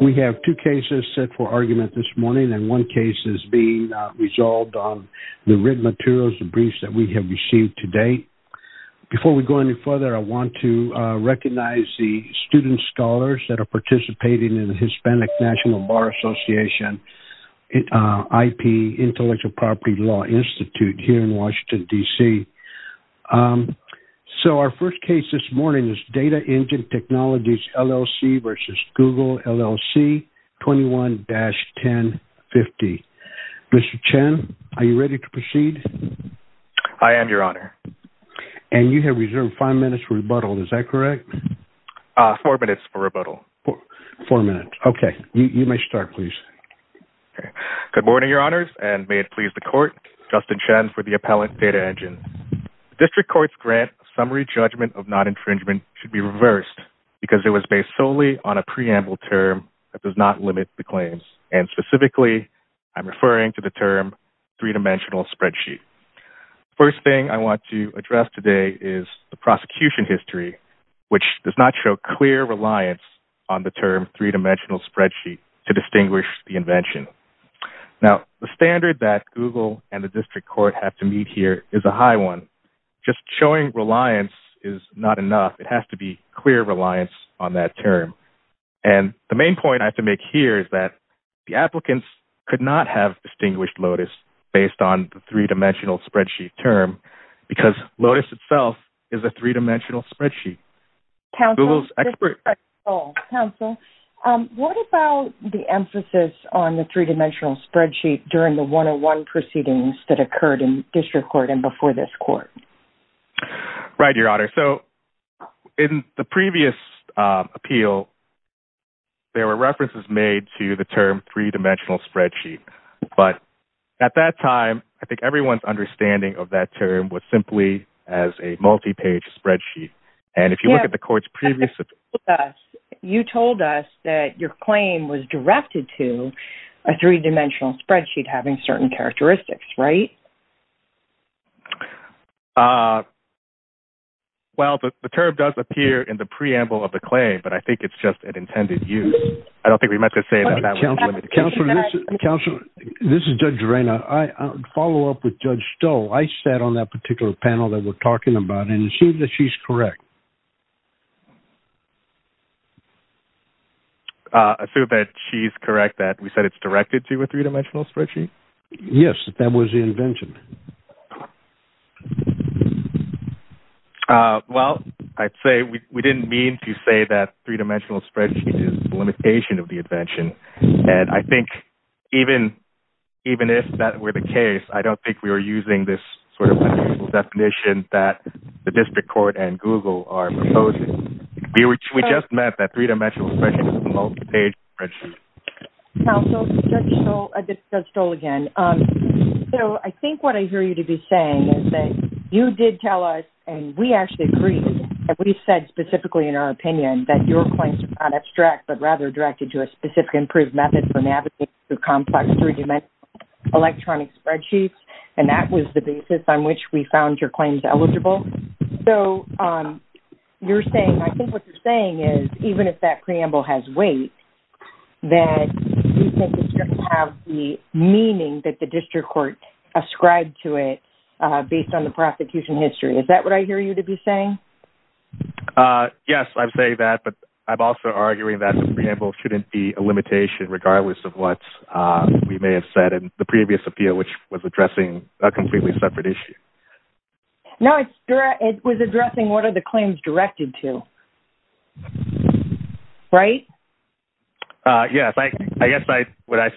We have two cases set for argument this morning and one case is being resolved on the written materials and briefs that we have received to date. Before we go any further, I want to recognize the student scholars that are participating in the Hispanic National Bar Association IP Intellectual Property Law Institute here in Washington, D.C. So, our first case this morning is Data Engine Technologies LLC v. Google LLC 21-1050. Mr. Chen, are you ready to proceed? I am, Your Honor. And you have reserved five minutes for rebuttal, is that correct? Four minutes for rebuttal. Four minutes, okay. You may start, please. Good morning, Your Honors, and may it please the Court, Justin Chen for the appellant, Data Engine. The District Court's grant of summary judgment of non-intringement should be reversed because it was based solely on a preamble term that does not limit the claims, and specifically, I'm referring to the term three-dimensional spreadsheet. The first thing I want to address today is the prosecution history, which does not show clear reliance on the term three-dimensional spreadsheet to distinguish the invention. Now, the standard that Google and the District Court have to meet here is a high one. Just showing reliance is not enough. It has to be clear reliance on that term. And the main point I have to make here is that the applicants could not have distinguished Lotus based on the three-dimensional spreadsheet term because Lotus itself is a three-dimensional spreadsheet. Counsel, what about the emphasis on the three-dimensional spreadsheet during the one-on-one proceedings that occurred in District Court and before this Court? Right, Your Honor. So, in the previous appeal, there were references made to the term three-dimensional spreadsheet, but at that time, I think everyone's understanding of that term was simply as a multi-page spreadsheet. And if you look at the Court's previous appeal, you told us that your having certain characteristics, right? Well, the term does appear in the preamble of the claim, but I think it's just an intended use. I don't think we meant to say that. Counsel, this is Judge Reina. I follow up with Judge Stoll. I sat on that particular panel that we're talking about and it seems that she's correct. I assume that she's correct that we said it's directed to a three-dimensional spreadsheet? Yes, that was the invention. Well, I'd say we didn't mean to say that three-dimensional spreadsheet is a limitation of the invention. And I think even if that were the case, I don't think we were using this sort of definition that the District Court and Google are proposing. We just meant that three-dimensional spreadsheet is a multi-page spreadsheet. Counsel, this is Judge Stoll again. So, I think what I hear you to be saying is that you did tell us, and we actually agree, and we've said specifically in our opinion that your claims are not abstract, but rather directed to a specific improved method for navigating through complex three-dimensional electronic spreadsheets. And that was the basis on which we found your claims eligible. So, you're saying, I think what you're saying is even if that preamble has weight, that you think it's going to have the meaning that the District Court ascribed to it based on the prosecution history. Is that what I hear you to be saying? Yes, I would say that, but I'm also arguing that the preamble shouldn't be a limitation regardless of what we may have said in the previous appeal, which was addressing a completely separate issue. No, it was addressing what are the claims directed to. Right? Yes, I guess when I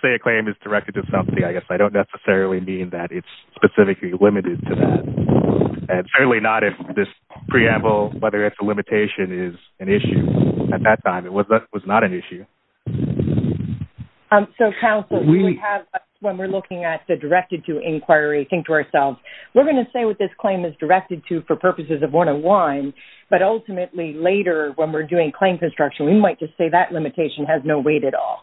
say a claim is directed to something, I guess I don't necessarily mean that it's specifically limited to that. And certainly not if this preamble, whether it's a limitation, is an issue at that time. It was not an issue. So, counsel, when we're looking at the directed to inquiry, think to ourselves, we're going to say what this claim is directed to for purposes of 101, but ultimately later when we're doing claim construction, we might just say that limitation has no weight at all.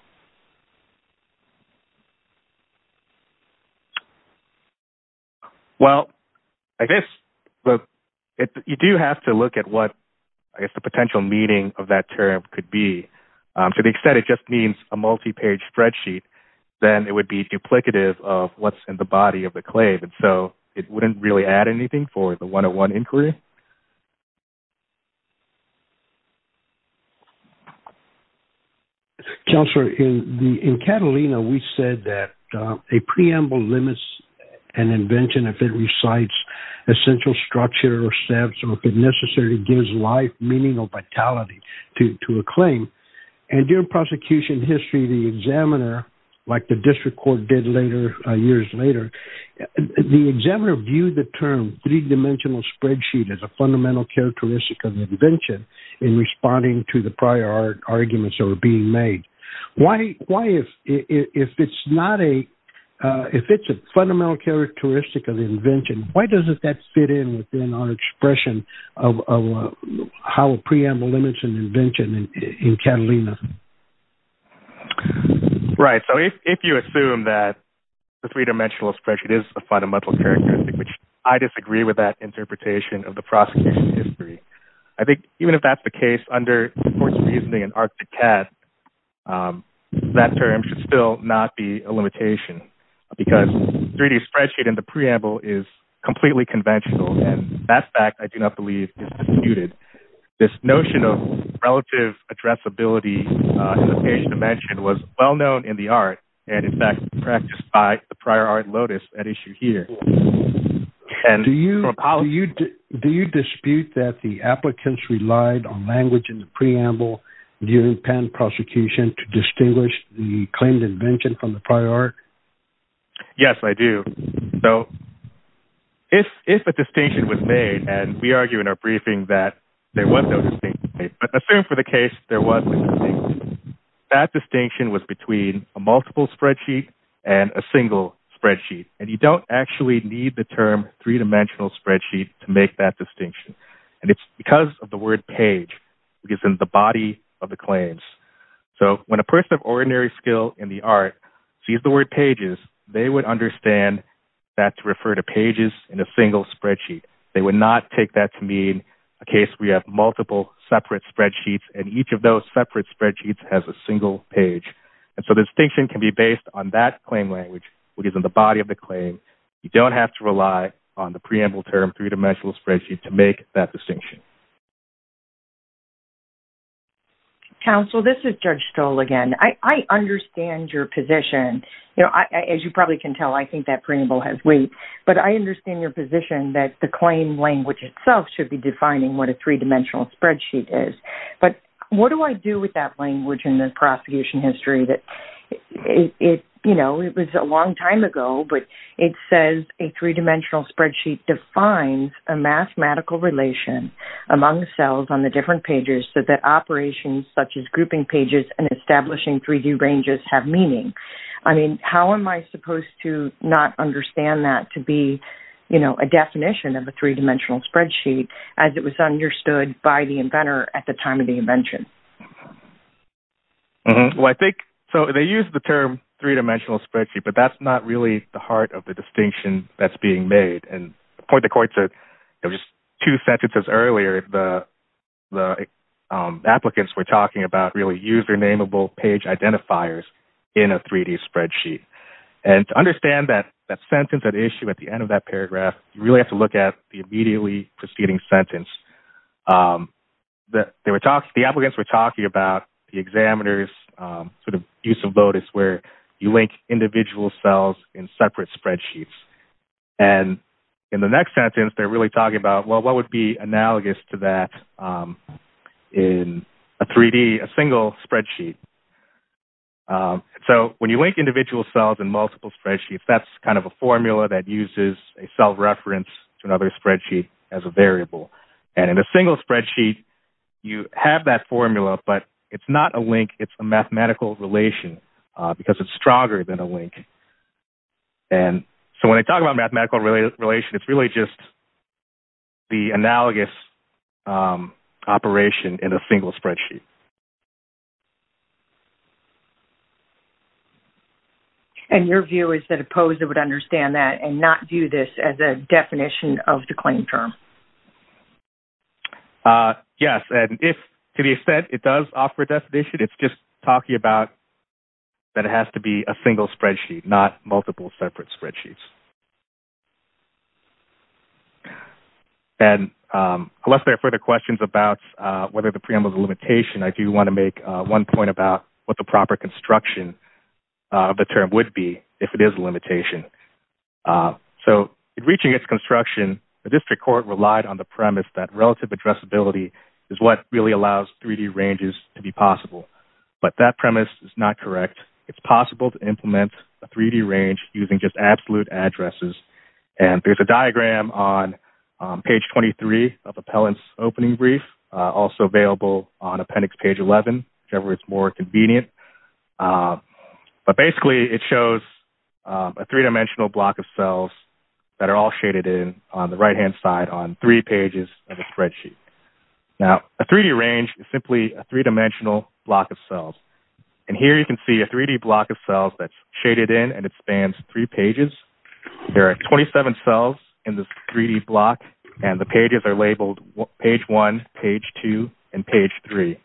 Well, I guess you do have to look at what I guess the potential meaning of that term could be. To the extent it just means a multi-page spreadsheet, then it would be duplicative of what's in the body of the claim. And so it wouldn't really add anything for the 101 inquiry. Counselor, in Catalina, we said that a preamble limits an invention if it recites essential structure or steps or if it necessarily gives life, meaning or vitality to a claim. And during prosecution history, the examiner, like the district court did years later, the examiner viewed the term three-dimensional spreadsheet as a fundamental characteristic of invention in responding to the prior arguments that were being made. If it's a fundamental characteristic of invention, why doesn't that fit in within our expression of how a preamble limits an invention in Catalina? Right. So if you assume that the three-dimensional spreadsheet is a fundamental characteristic, which I disagree with that interpretation of the prosecution history, I think even if that's the case under the court's reasoning and Arctic cast, that term should still not be a limitation because 3D spreadsheet and the preamble is completely conventional. And that fact, I do not believe is disputed. This notion of relative addressability in the page dimension was well-known in the art and in fact practiced by the prior art Lotus at issue here. Do you dispute that the applicants relied on language in the preamble during patent prosecution to distinguish the claimed invention from the prior art? Yes, I do. So if, if the distinction was made and we argue in our briefing that there was no distinction, but assume for the case, there was that distinction was between a multiple spreadsheet and a single spreadsheet. And you don't actually need the term three dimensional spreadsheet to make that distinction. And it's because of the word page because in the they would understand that to refer to pages in a single spreadsheet. They would not take that to mean a case where you have multiple separate spreadsheets and each of those separate spreadsheets has a single page. And so the distinction can be based on that claim language, which is in the body of the claim. You don't have to rely on the preamble term three-dimensional spreadsheet to make that distinction. Counsel, this is Judge Stoll again. I understand your position. You know, as you probably can tell, I think that preamble has weight, but I understand your position that the claim language itself should be defining what a three-dimensional spreadsheet is. But what do I do with that language in the prosecution history that it, you know, it was a long time ago, but it says a three-dimensional spreadsheet defines a mathematical relation among cells on the different pages so that operations such as grouping pages and establishing 3D ranges have meaning. I mean, how am I supposed to not understand that to be, you know, a definition of a three-dimensional spreadsheet as it was understood by the inventor at the time of the invention? Well, I think, so they use the term three-dimensional spreadsheet, but that's not really the heart of the distinction that's being made. And to point the court to, you know, just two sentences earlier, the applicants were talking about really usernameable page identifiers in a 3D spreadsheet. And to understand that sentence, that issue at the end of that paragraph, you really have to look at the immediately preceding sentence. The applicants were talking about the examiner's sort of use of Lotus where you link individual cells in separate spreadsheets. And in the next sentence, they're really talking about, well, what would be analogous to that in a 3D, a single spreadsheet? So when you link individual cells in multiple spreadsheets, that's kind of a formula that uses a self-reference to another spreadsheet as a variable. And in a single spreadsheet, you have that formula, but it's not a link. It's a mathematical relation because it's stronger than a link. And so when they talk about mathematical relation, it's really just the analogous operation in a single spreadsheet. And your view is that opposed it would understand that and not view this as a linear equation. Yes. And if to the extent it does offer a definition, it's just talking about that it has to be a single spreadsheet, not multiple separate spreadsheets. And unless there are further questions about whether the preamble is a limitation, I do want to make one point about what the proper construction of the term would be if it is a limitation. So in reaching its construction, the district court relied on the premise that relative addressability is what really allows 3D ranges to be possible. But that premise is not correct. It's possible to implement a 3D range using just absolute addresses. And there's a diagram on page 23 of appellant's opening brief, also available on appendix page 11, whichever is more convenient. But basically it shows a three-dimensional block of cells that are all shaded in on the right-hand side on three pages of a spreadsheet. Now, a 3D range is simply a three-dimensional block of cells. And here you can see a 3D block of cells that's shaded in, and it spans three pages. There are 27 cells in this 3D block, and the pages are labeled page one, page two, and page three.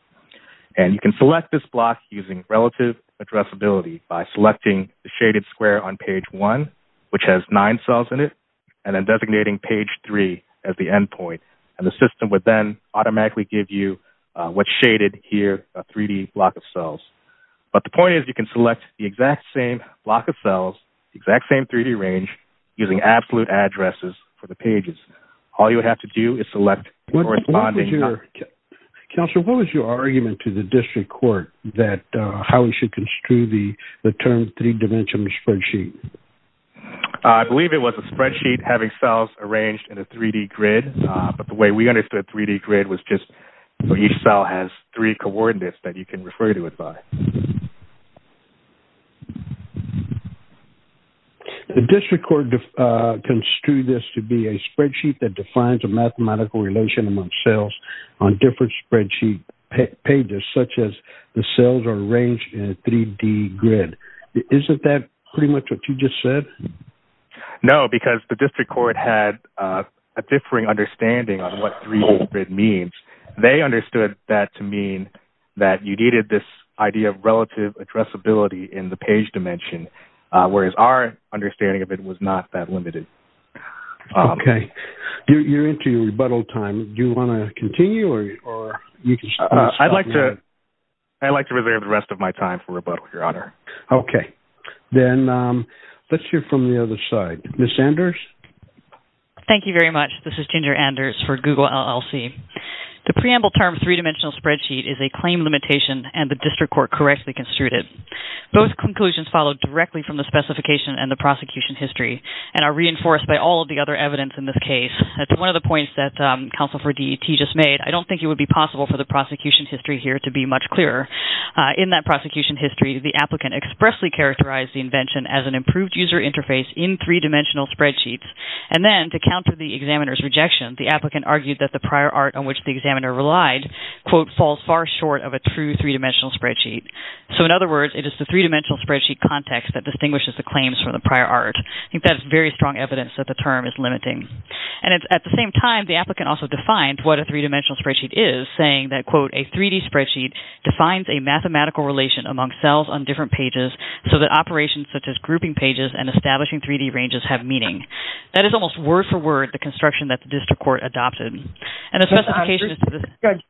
And you can select this block using relative addressability by selecting the shaded square on page one, which has nine cells in it, and then designating page three as the end point. And the system would then automatically give you what's shaded here, a 3D block of cells. But the point is you can select the exact same block of cells, the exact same 3D range using absolute addresses for the pages. All you have to do is select corresponding... Counselor, what was your argument to the district court that how we should construe the term three-dimensional spreadsheet? I believe it was a spreadsheet having cells arranged in a 3D grid. But the way we understood 3D grid was just for each cell has three coordinates that you can refer to it by. Okay. The district court construed this to be a spreadsheet that defines a mathematical relation among cells on different spreadsheet pages, such as the cells are arranged in a 3D grid. Isn't that pretty much what you just said? No, because the district court had a differing understanding on what 3D grid means. They understood that to mean that you needed this idea of relative addressability in the page dimension, whereas our understanding of it was not that limited. Okay. You're into your rebuttal time. Do you want to continue? I'd like to reserve the rest of my time for rebuttal, Your Honor. Okay. Then let's hear from the other side. Ms. Anders? Thank you very much. This is Ginger Anders for Google LLC. The preamble term three-dimensional spreadsheet is a claim limitation and the district court correctly construed it. Both conclusions followed directly from the specification and the prosecution history and are reinforced by all of the other evidence in this case. That's one of the points that counsel for DET just made. I don't think it would be possible for the prosecution history here to be much clearer. In that prosecution history, the applicant expressly characterized the invention as an improved user interface in three-dimensional spreadsheets. And then to counter the examiner's glide, quote, falls far short of a true three-dimensional spreadsheet. So in other words, it is the three-dimensional spreadsheet context that distinguishes the claims from the prior art. I think that's very strong evidence that the term is limiting. And at the same time, the applicant also defined what a three-dimensional spreadsheet is, saying that, quote, a 3D spreadsheet defines a mathematical relation among cells on different pages so that operations such as grouping pages and establishing 3D ranges have meaning. That is almost word for word the judge's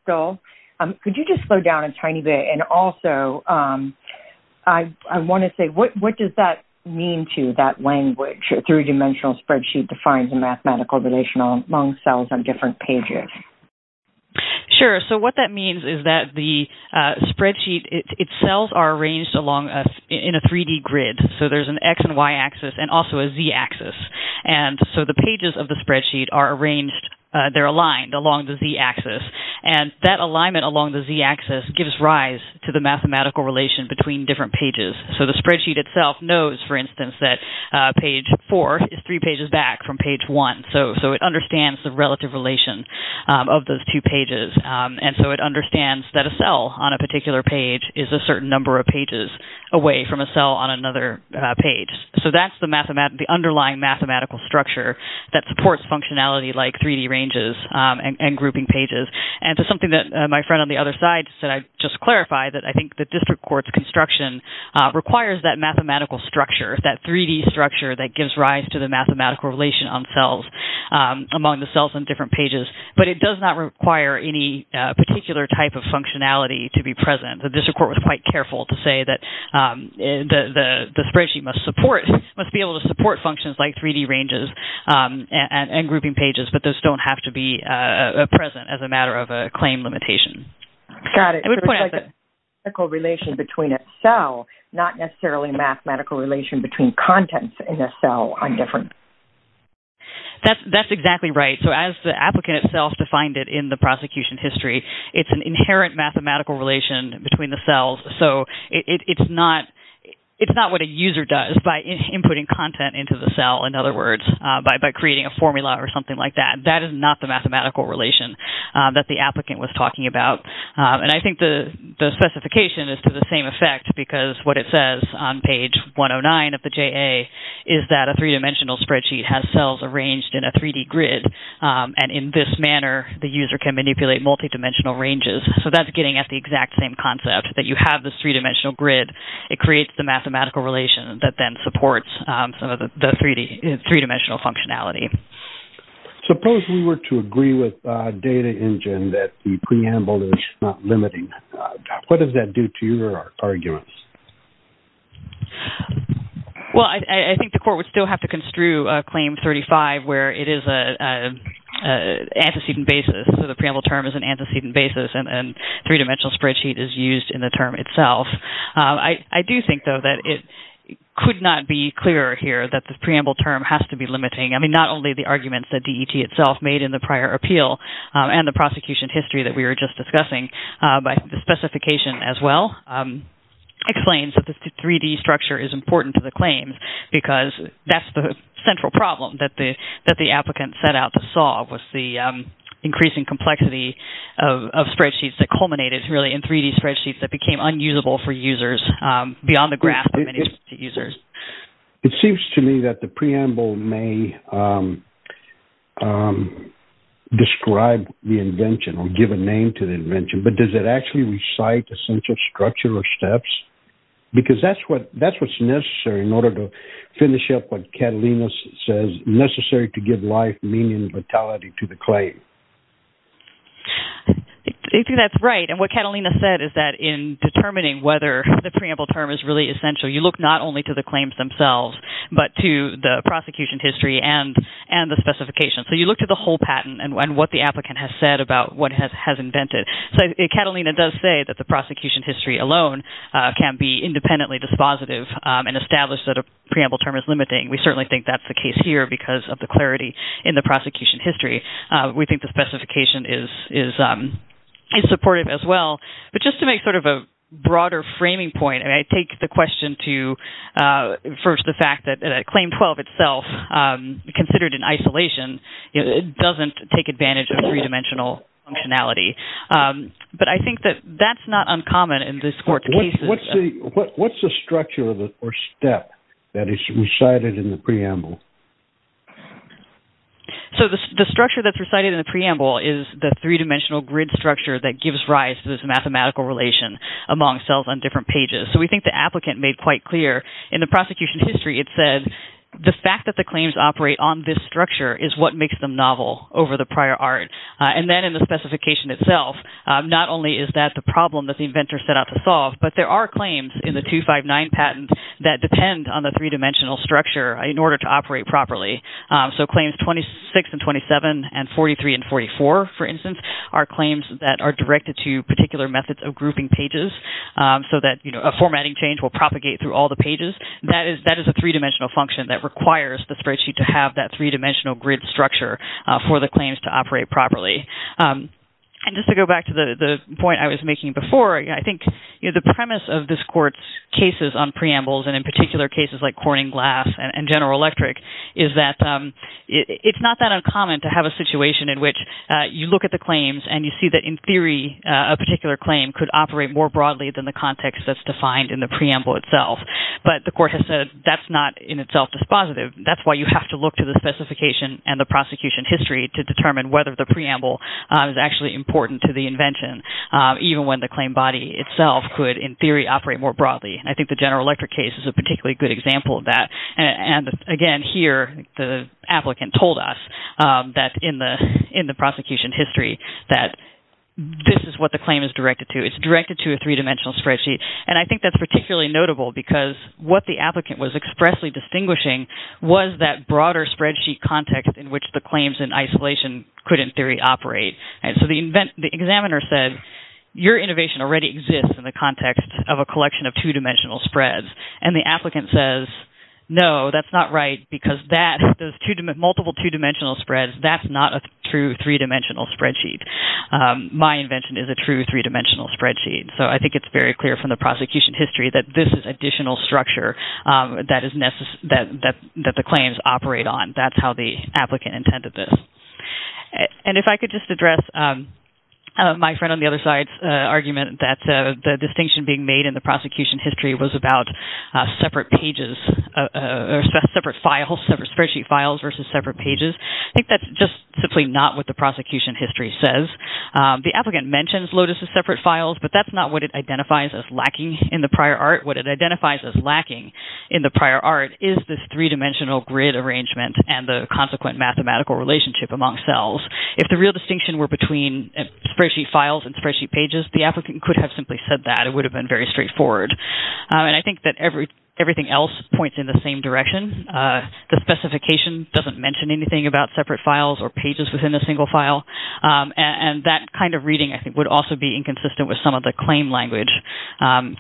goal. Could you just slow down a tiny bit? And also, I want to say, what does that mean to that language? A three-dimensional spreadsheet defines a mathematical relation among cells on different pages. Sure. So what that means is that the spreadsheet itself are arranged in a 3D grid. So there's an x and y-axis and also a z-axis. And so the pages of the spreadsheet are aligned along the z-axis. And that alignment along the z-axis gives rise to the mathematical relation between different pages. So the spreadsheet itself knows, for instance, that page four is three pages back from page one. So it understands the relative relation of those two pages. And so it understands that a cell on a particular page is a certain number of pages away from a cell on another page. So that's the underlying mathematical structure that supports functionality like 3D ranges and grouping pages. And to something that my friend on the other side said, I'd just clarify that I think the district court's construction requires that mathematical structure, that 3D structure, that gives rise to the mathematical relation among the cells on different pages. But it does not require any particular type of functionality to be present. The district court was quite careful to must be able to support functions like 3D ranges and grouping pages, but those don't have to be present as a matter of a claim limitation. Got it. There's a mathematical relation between a cell, not necessarily a mathematical relation between contents in a cell on different... That's exactly right. So as the applicant itself defined it in the prosecution history, it's an inherent mathematical relation between the cells. So it's not what a user does. By inputting content into the cell, in other words, by creating a formula or something like that, that is not the mathematical relation that the applicant was talking about. And I think the specification is to the same effect because what it says on page 109 of the JA is that a three-dimensional spreadsheet has cells arranged in a 3D grid. And in this manner, the user can manipulate multi-dimensional ranges. So that's getting at the exact same concept that you have this three-dimensional grid. It creates the mathematical relation that then supports some of the three-dimensional functionality. Suppose we were to agree with Data Engine that the preamble is not limiting. What does that do to your arguments? Well, I think the court would still have to construe a claim 35 where it is an antecedent basis. So the preamble term is an antecedent basis and three-dimensional spreadsheet is used in the term itself. I do think, though, that it could not be clearer here that the preamble term has to be limiting. I mean, not only the arguments that DET itself made in the prior appeal and the prosecution history that we were just discussing, but the specification as well explains that the 3D structure is important to the claims because that's the central problem that the applicant set out to solve was the increasing complexity of spreadsheets that culminated really in 3D spreadsheets that became unusable for users beyond the graph of the users. It seems to me that the preamble may describe the invention or give a name to the invention, but does it actually recite the central structure or steps? Because that's what's necessary in order to finish up what Catalina says necessary to give life, meaning, and vitality to the claim. I think that's right. And what Catalina said is that in determining whether the preamble term is really essential, you look not only to the claims themselves, but to the prosecution history and the specifications. So you look at the whole patent and what the applicant has said about what has invented. Catalina does say that the prosecution history alone can be independently dispositive and establish that a preamble term is limiting. We certainly think that's the case here because of the clarity in the prosecution history. We think the specification is supportive as well. But just to make sort of a broader framing point, and I take the question to first the fact that Claim 12 itself, considered in isolation, doesn't take advantage of three-dimensional functionality. But I think that that's not uncommon in this court's cases. What's the structure or step that is recited in the preamble? So the structure that's recited in the preamble is the three-dimensional grid structure that gives rise to this mathematical relation among cells on different pages. So we think the applicant made quite clear in the prosecution history, it said the fact that the claims operate on this structure is what makes them novel over the prior art. And then in the specification itself, not only is that the problem that the inventor set out to solve, but there are claims in the 259 patent that depend on the three-dimensional structure in order to operate properly. So Claims 26 and 27 and 43 and 44, for instance, are claims that are directed to particular methods of grouping pages so that a formatting change will propagate through all the pages. That is a three-dimensional function that requires the spreadsheet to have that three-dimensional grid structure for the claims to operate properly. And just to go back to the point I was making before, I think the premise of this court's cases on preambles and in particular cases like Corning Glass and General Electric is that it's not that uncommon to have a situation in which you look at the claims and you see that in theory, a particular claim could operate more broadly than the context that's defined in the preamble itself. But the court has said that's not in itself dispositive. That's why you have to look to the specification and the prosecution history to determine whether the preamble is actually important to the invention, even when the claim body itself could, in theory, operate more broadly. I think the General Electric case is a particularly good example of that. And again here, the applicant told us that in the prosecution history that this is what the claim is directed to. It's directed to a three-dimensional spreadsheet. And I think that's particularly notable because what the applicant was expressly distinguishing was that broader spreadsheet context in which the claims in isolation could, in theory, operate. And so the examiner said, your innovation already exists in the context of a collection of two-dimensional spreads. And the applicant says, no, that's not right because those multiple two-dimensional spreads, that's not a true three-dimensional spreadsheet. My invention is a true three-dimensional spreadsheet. So I think it's very clear from the prosecution history that this is additional structure that the claims operate on. That's how the applicant intended this. And if I could just address my friend on the other side's argument that the distinction being made in the prosecution history was about separate pages or separate files, separate spreadsheet files versus separate pages. I think that's just simply not what the separate files. But that's not what it identifies as lacking in the prior art. What it identifies as lacking in the prior art is this three-dimensional grid arrangement and the consequent mathematical relationship among cells. If the real distinction were between spreadsheet files and spreadsheet pages, the applicant could have simply said that. It would have been very straightforward. And I think that everything else points in the same direction. The specification doesn't mention anything about separate files or pages within a single file. And that kind of reading, I think, would also be inconsistent with some of the claim language.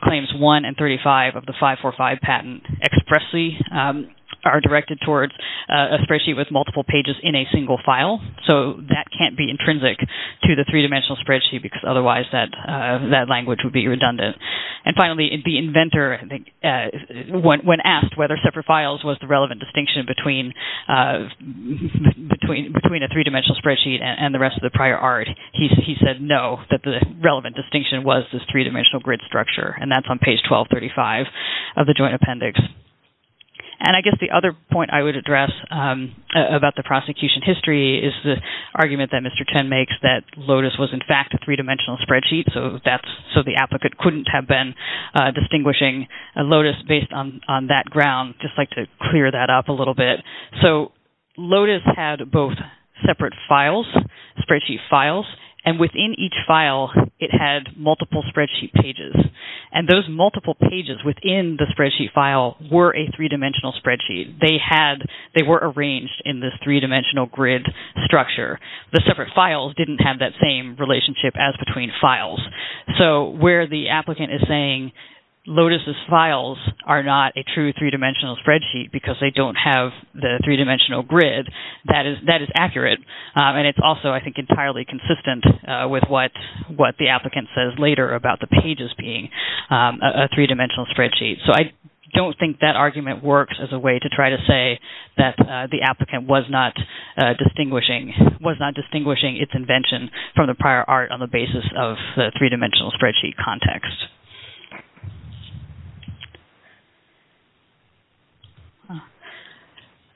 Claims 1 and 35 of the 545 patent expressly are directed towards a spreadsheet with multiple pages in a single file. So that can't be intrinsic to the three-dimensional spreadsheet because otherwise that language would be redundant. And finally, the inventor, I think, when asked whether separate files was the relevant distinction between a three-dimensional spreadsheet and the rest of the prior art, he said no, that the relevant distinction was this three-dimensional grid structure. And that's on page 1235 of the joint appendix. And I guess the other point I would address about the prosecution history is the argument that Mr. Chen makes that Lotus was, in fact, a three-dimensional spreadsheet. So the applicant couldn't have been distinguishing Lotus based on that ground. I'd just like to clear that up a little bit. So Lotus had both separate files, spreadsheet files, and within each file it had multiple spreadsheet pages. And those multiple pages within the spreadsheet file were a three-dimensional spreadsheet. They had, they were arranged in this three-dimensional grid structure. The separate files didn't have that same relationship as between files. So where the applicant is saying Lotus's files are not a true three-dimensional spreadsheet because they don't have the three-dimensional grid, that is accurate. And it's also, I think, entirely consistent with what the applicant says later about the pages being a three-dimensional spreadsheet. So I don't think that argument works as a way to try to say that the applicant was not distinguishing, was not distinguishing its invention from the prior art on the basis of the three-dimensional spreadsheet context.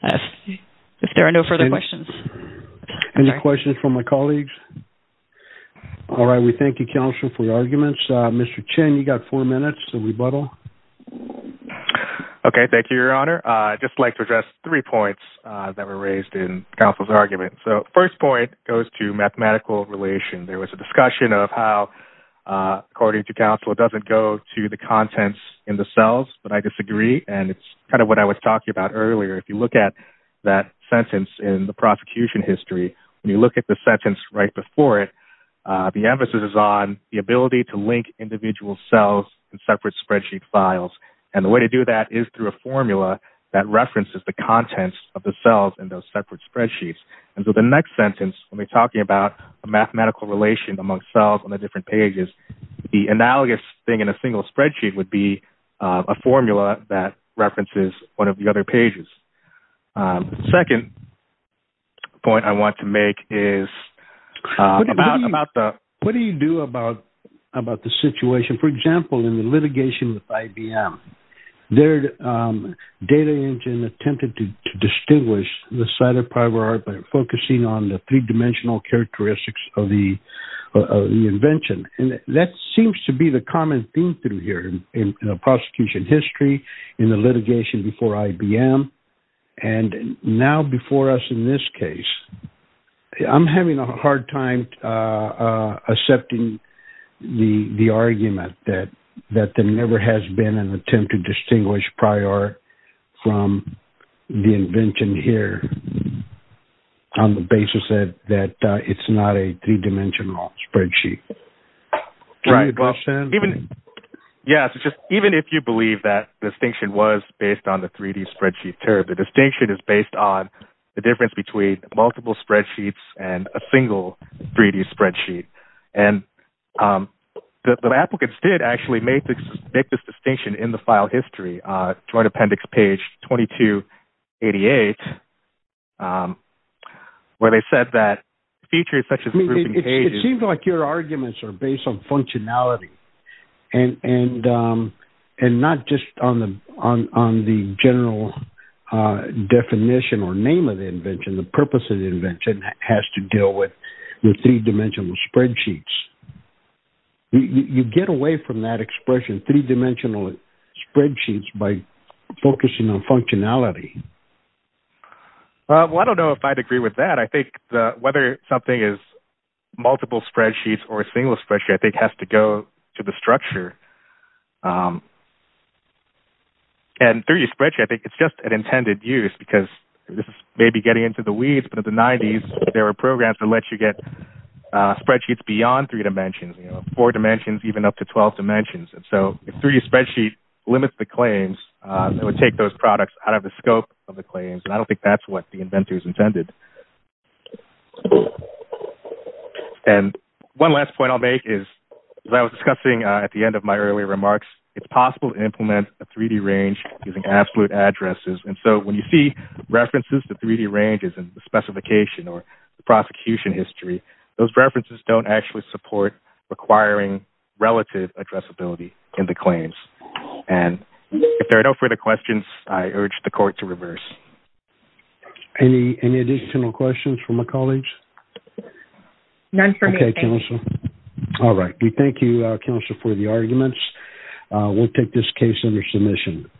If there are no further questions. Any questions from my colleagues? All right. We thank you, counsel, for your arguments. Mr. Chin, you got four minutes to rebuttal. Okay. Thank you, your honor. I'd just like to address three points that were raised in counsel's argument. So first point goes to mathematical relation. There was a discussion of how, according to counsel, it doesn't go to the contents in the cells, but I disagree. And it's what I was talking about earlier. If you look at that sentence in the prosecution history, when you look at the sentence right before it, the emphasis is on the ability to link individual cells in separate spreadsheet files. And the way to do that is through a formula that references the contents of the cells in those separate spreadsheets. And so the next sentence, when we're talking about a mathematical relation among cells on the different pages, the analogous thing in a one of the other pages. Second point I want to make is about the... What do you do about the situation? For example, in the litigation with IBM, their data engine attempted to distinguish the cytopyrite by focusing on the three-dimensional characteristics of the invention. And that seems to be the common theme through here in the prosecution history, in the litigation before IBM, and now before us in this case. I'm having a hard time accepting the argument that there never has been an attempt to distinguish prior from the invention here on the basis that it's not a three-dimensional spreadsheet. Do you have a question? Yes. Even if you believe that the distinction was based on the 3D spreadsheet curve, the distinction is based on the difference between multiple spreadsheets and a single 3D spreadsheet. And the applicants did actually make this distinction in the file history, Joint Appendix page 2288, where they said that features such as... It seems like your arguments are based on functionality and not just on the general definition or name of the invention. The purpose of the invention has to deal with the three-dimensional spreadsheets. You get away from that expression, three-dimensional spreadsheets, by focusing on functionality. Well, I don't know if I'd agree with that. I think whether something is multiple spreadsheets or a single spreadsheet, I think has to go to the structure. And 3D spreadsheet, I think, it's just an intended use because this is maybe getting into the weeds, but in the 90s, there were programs that let you get spreadsheets beyond three dimensions, four dimensions, even up to 12 dimensions. And so if 3D spreadsheet limits the claims, it would take those products out of the scope of the claims. And I don't think that's what the inventors intended. And one last point I'll make is, as I was discussing at the end of my earlier remarks, it's possible to implement a 3D range using absolute addresses. And so when you see references to 3D ranges and the specification or the prosecution history, those references don't actually support requiring relative addressability in the claims. And if there are no further questions, I urge the court to reverse. Any additional questions from my colleagues? None for me. Okay, counsel. All right. We thank you, counsel, for the arguments. We'll take this case under submission.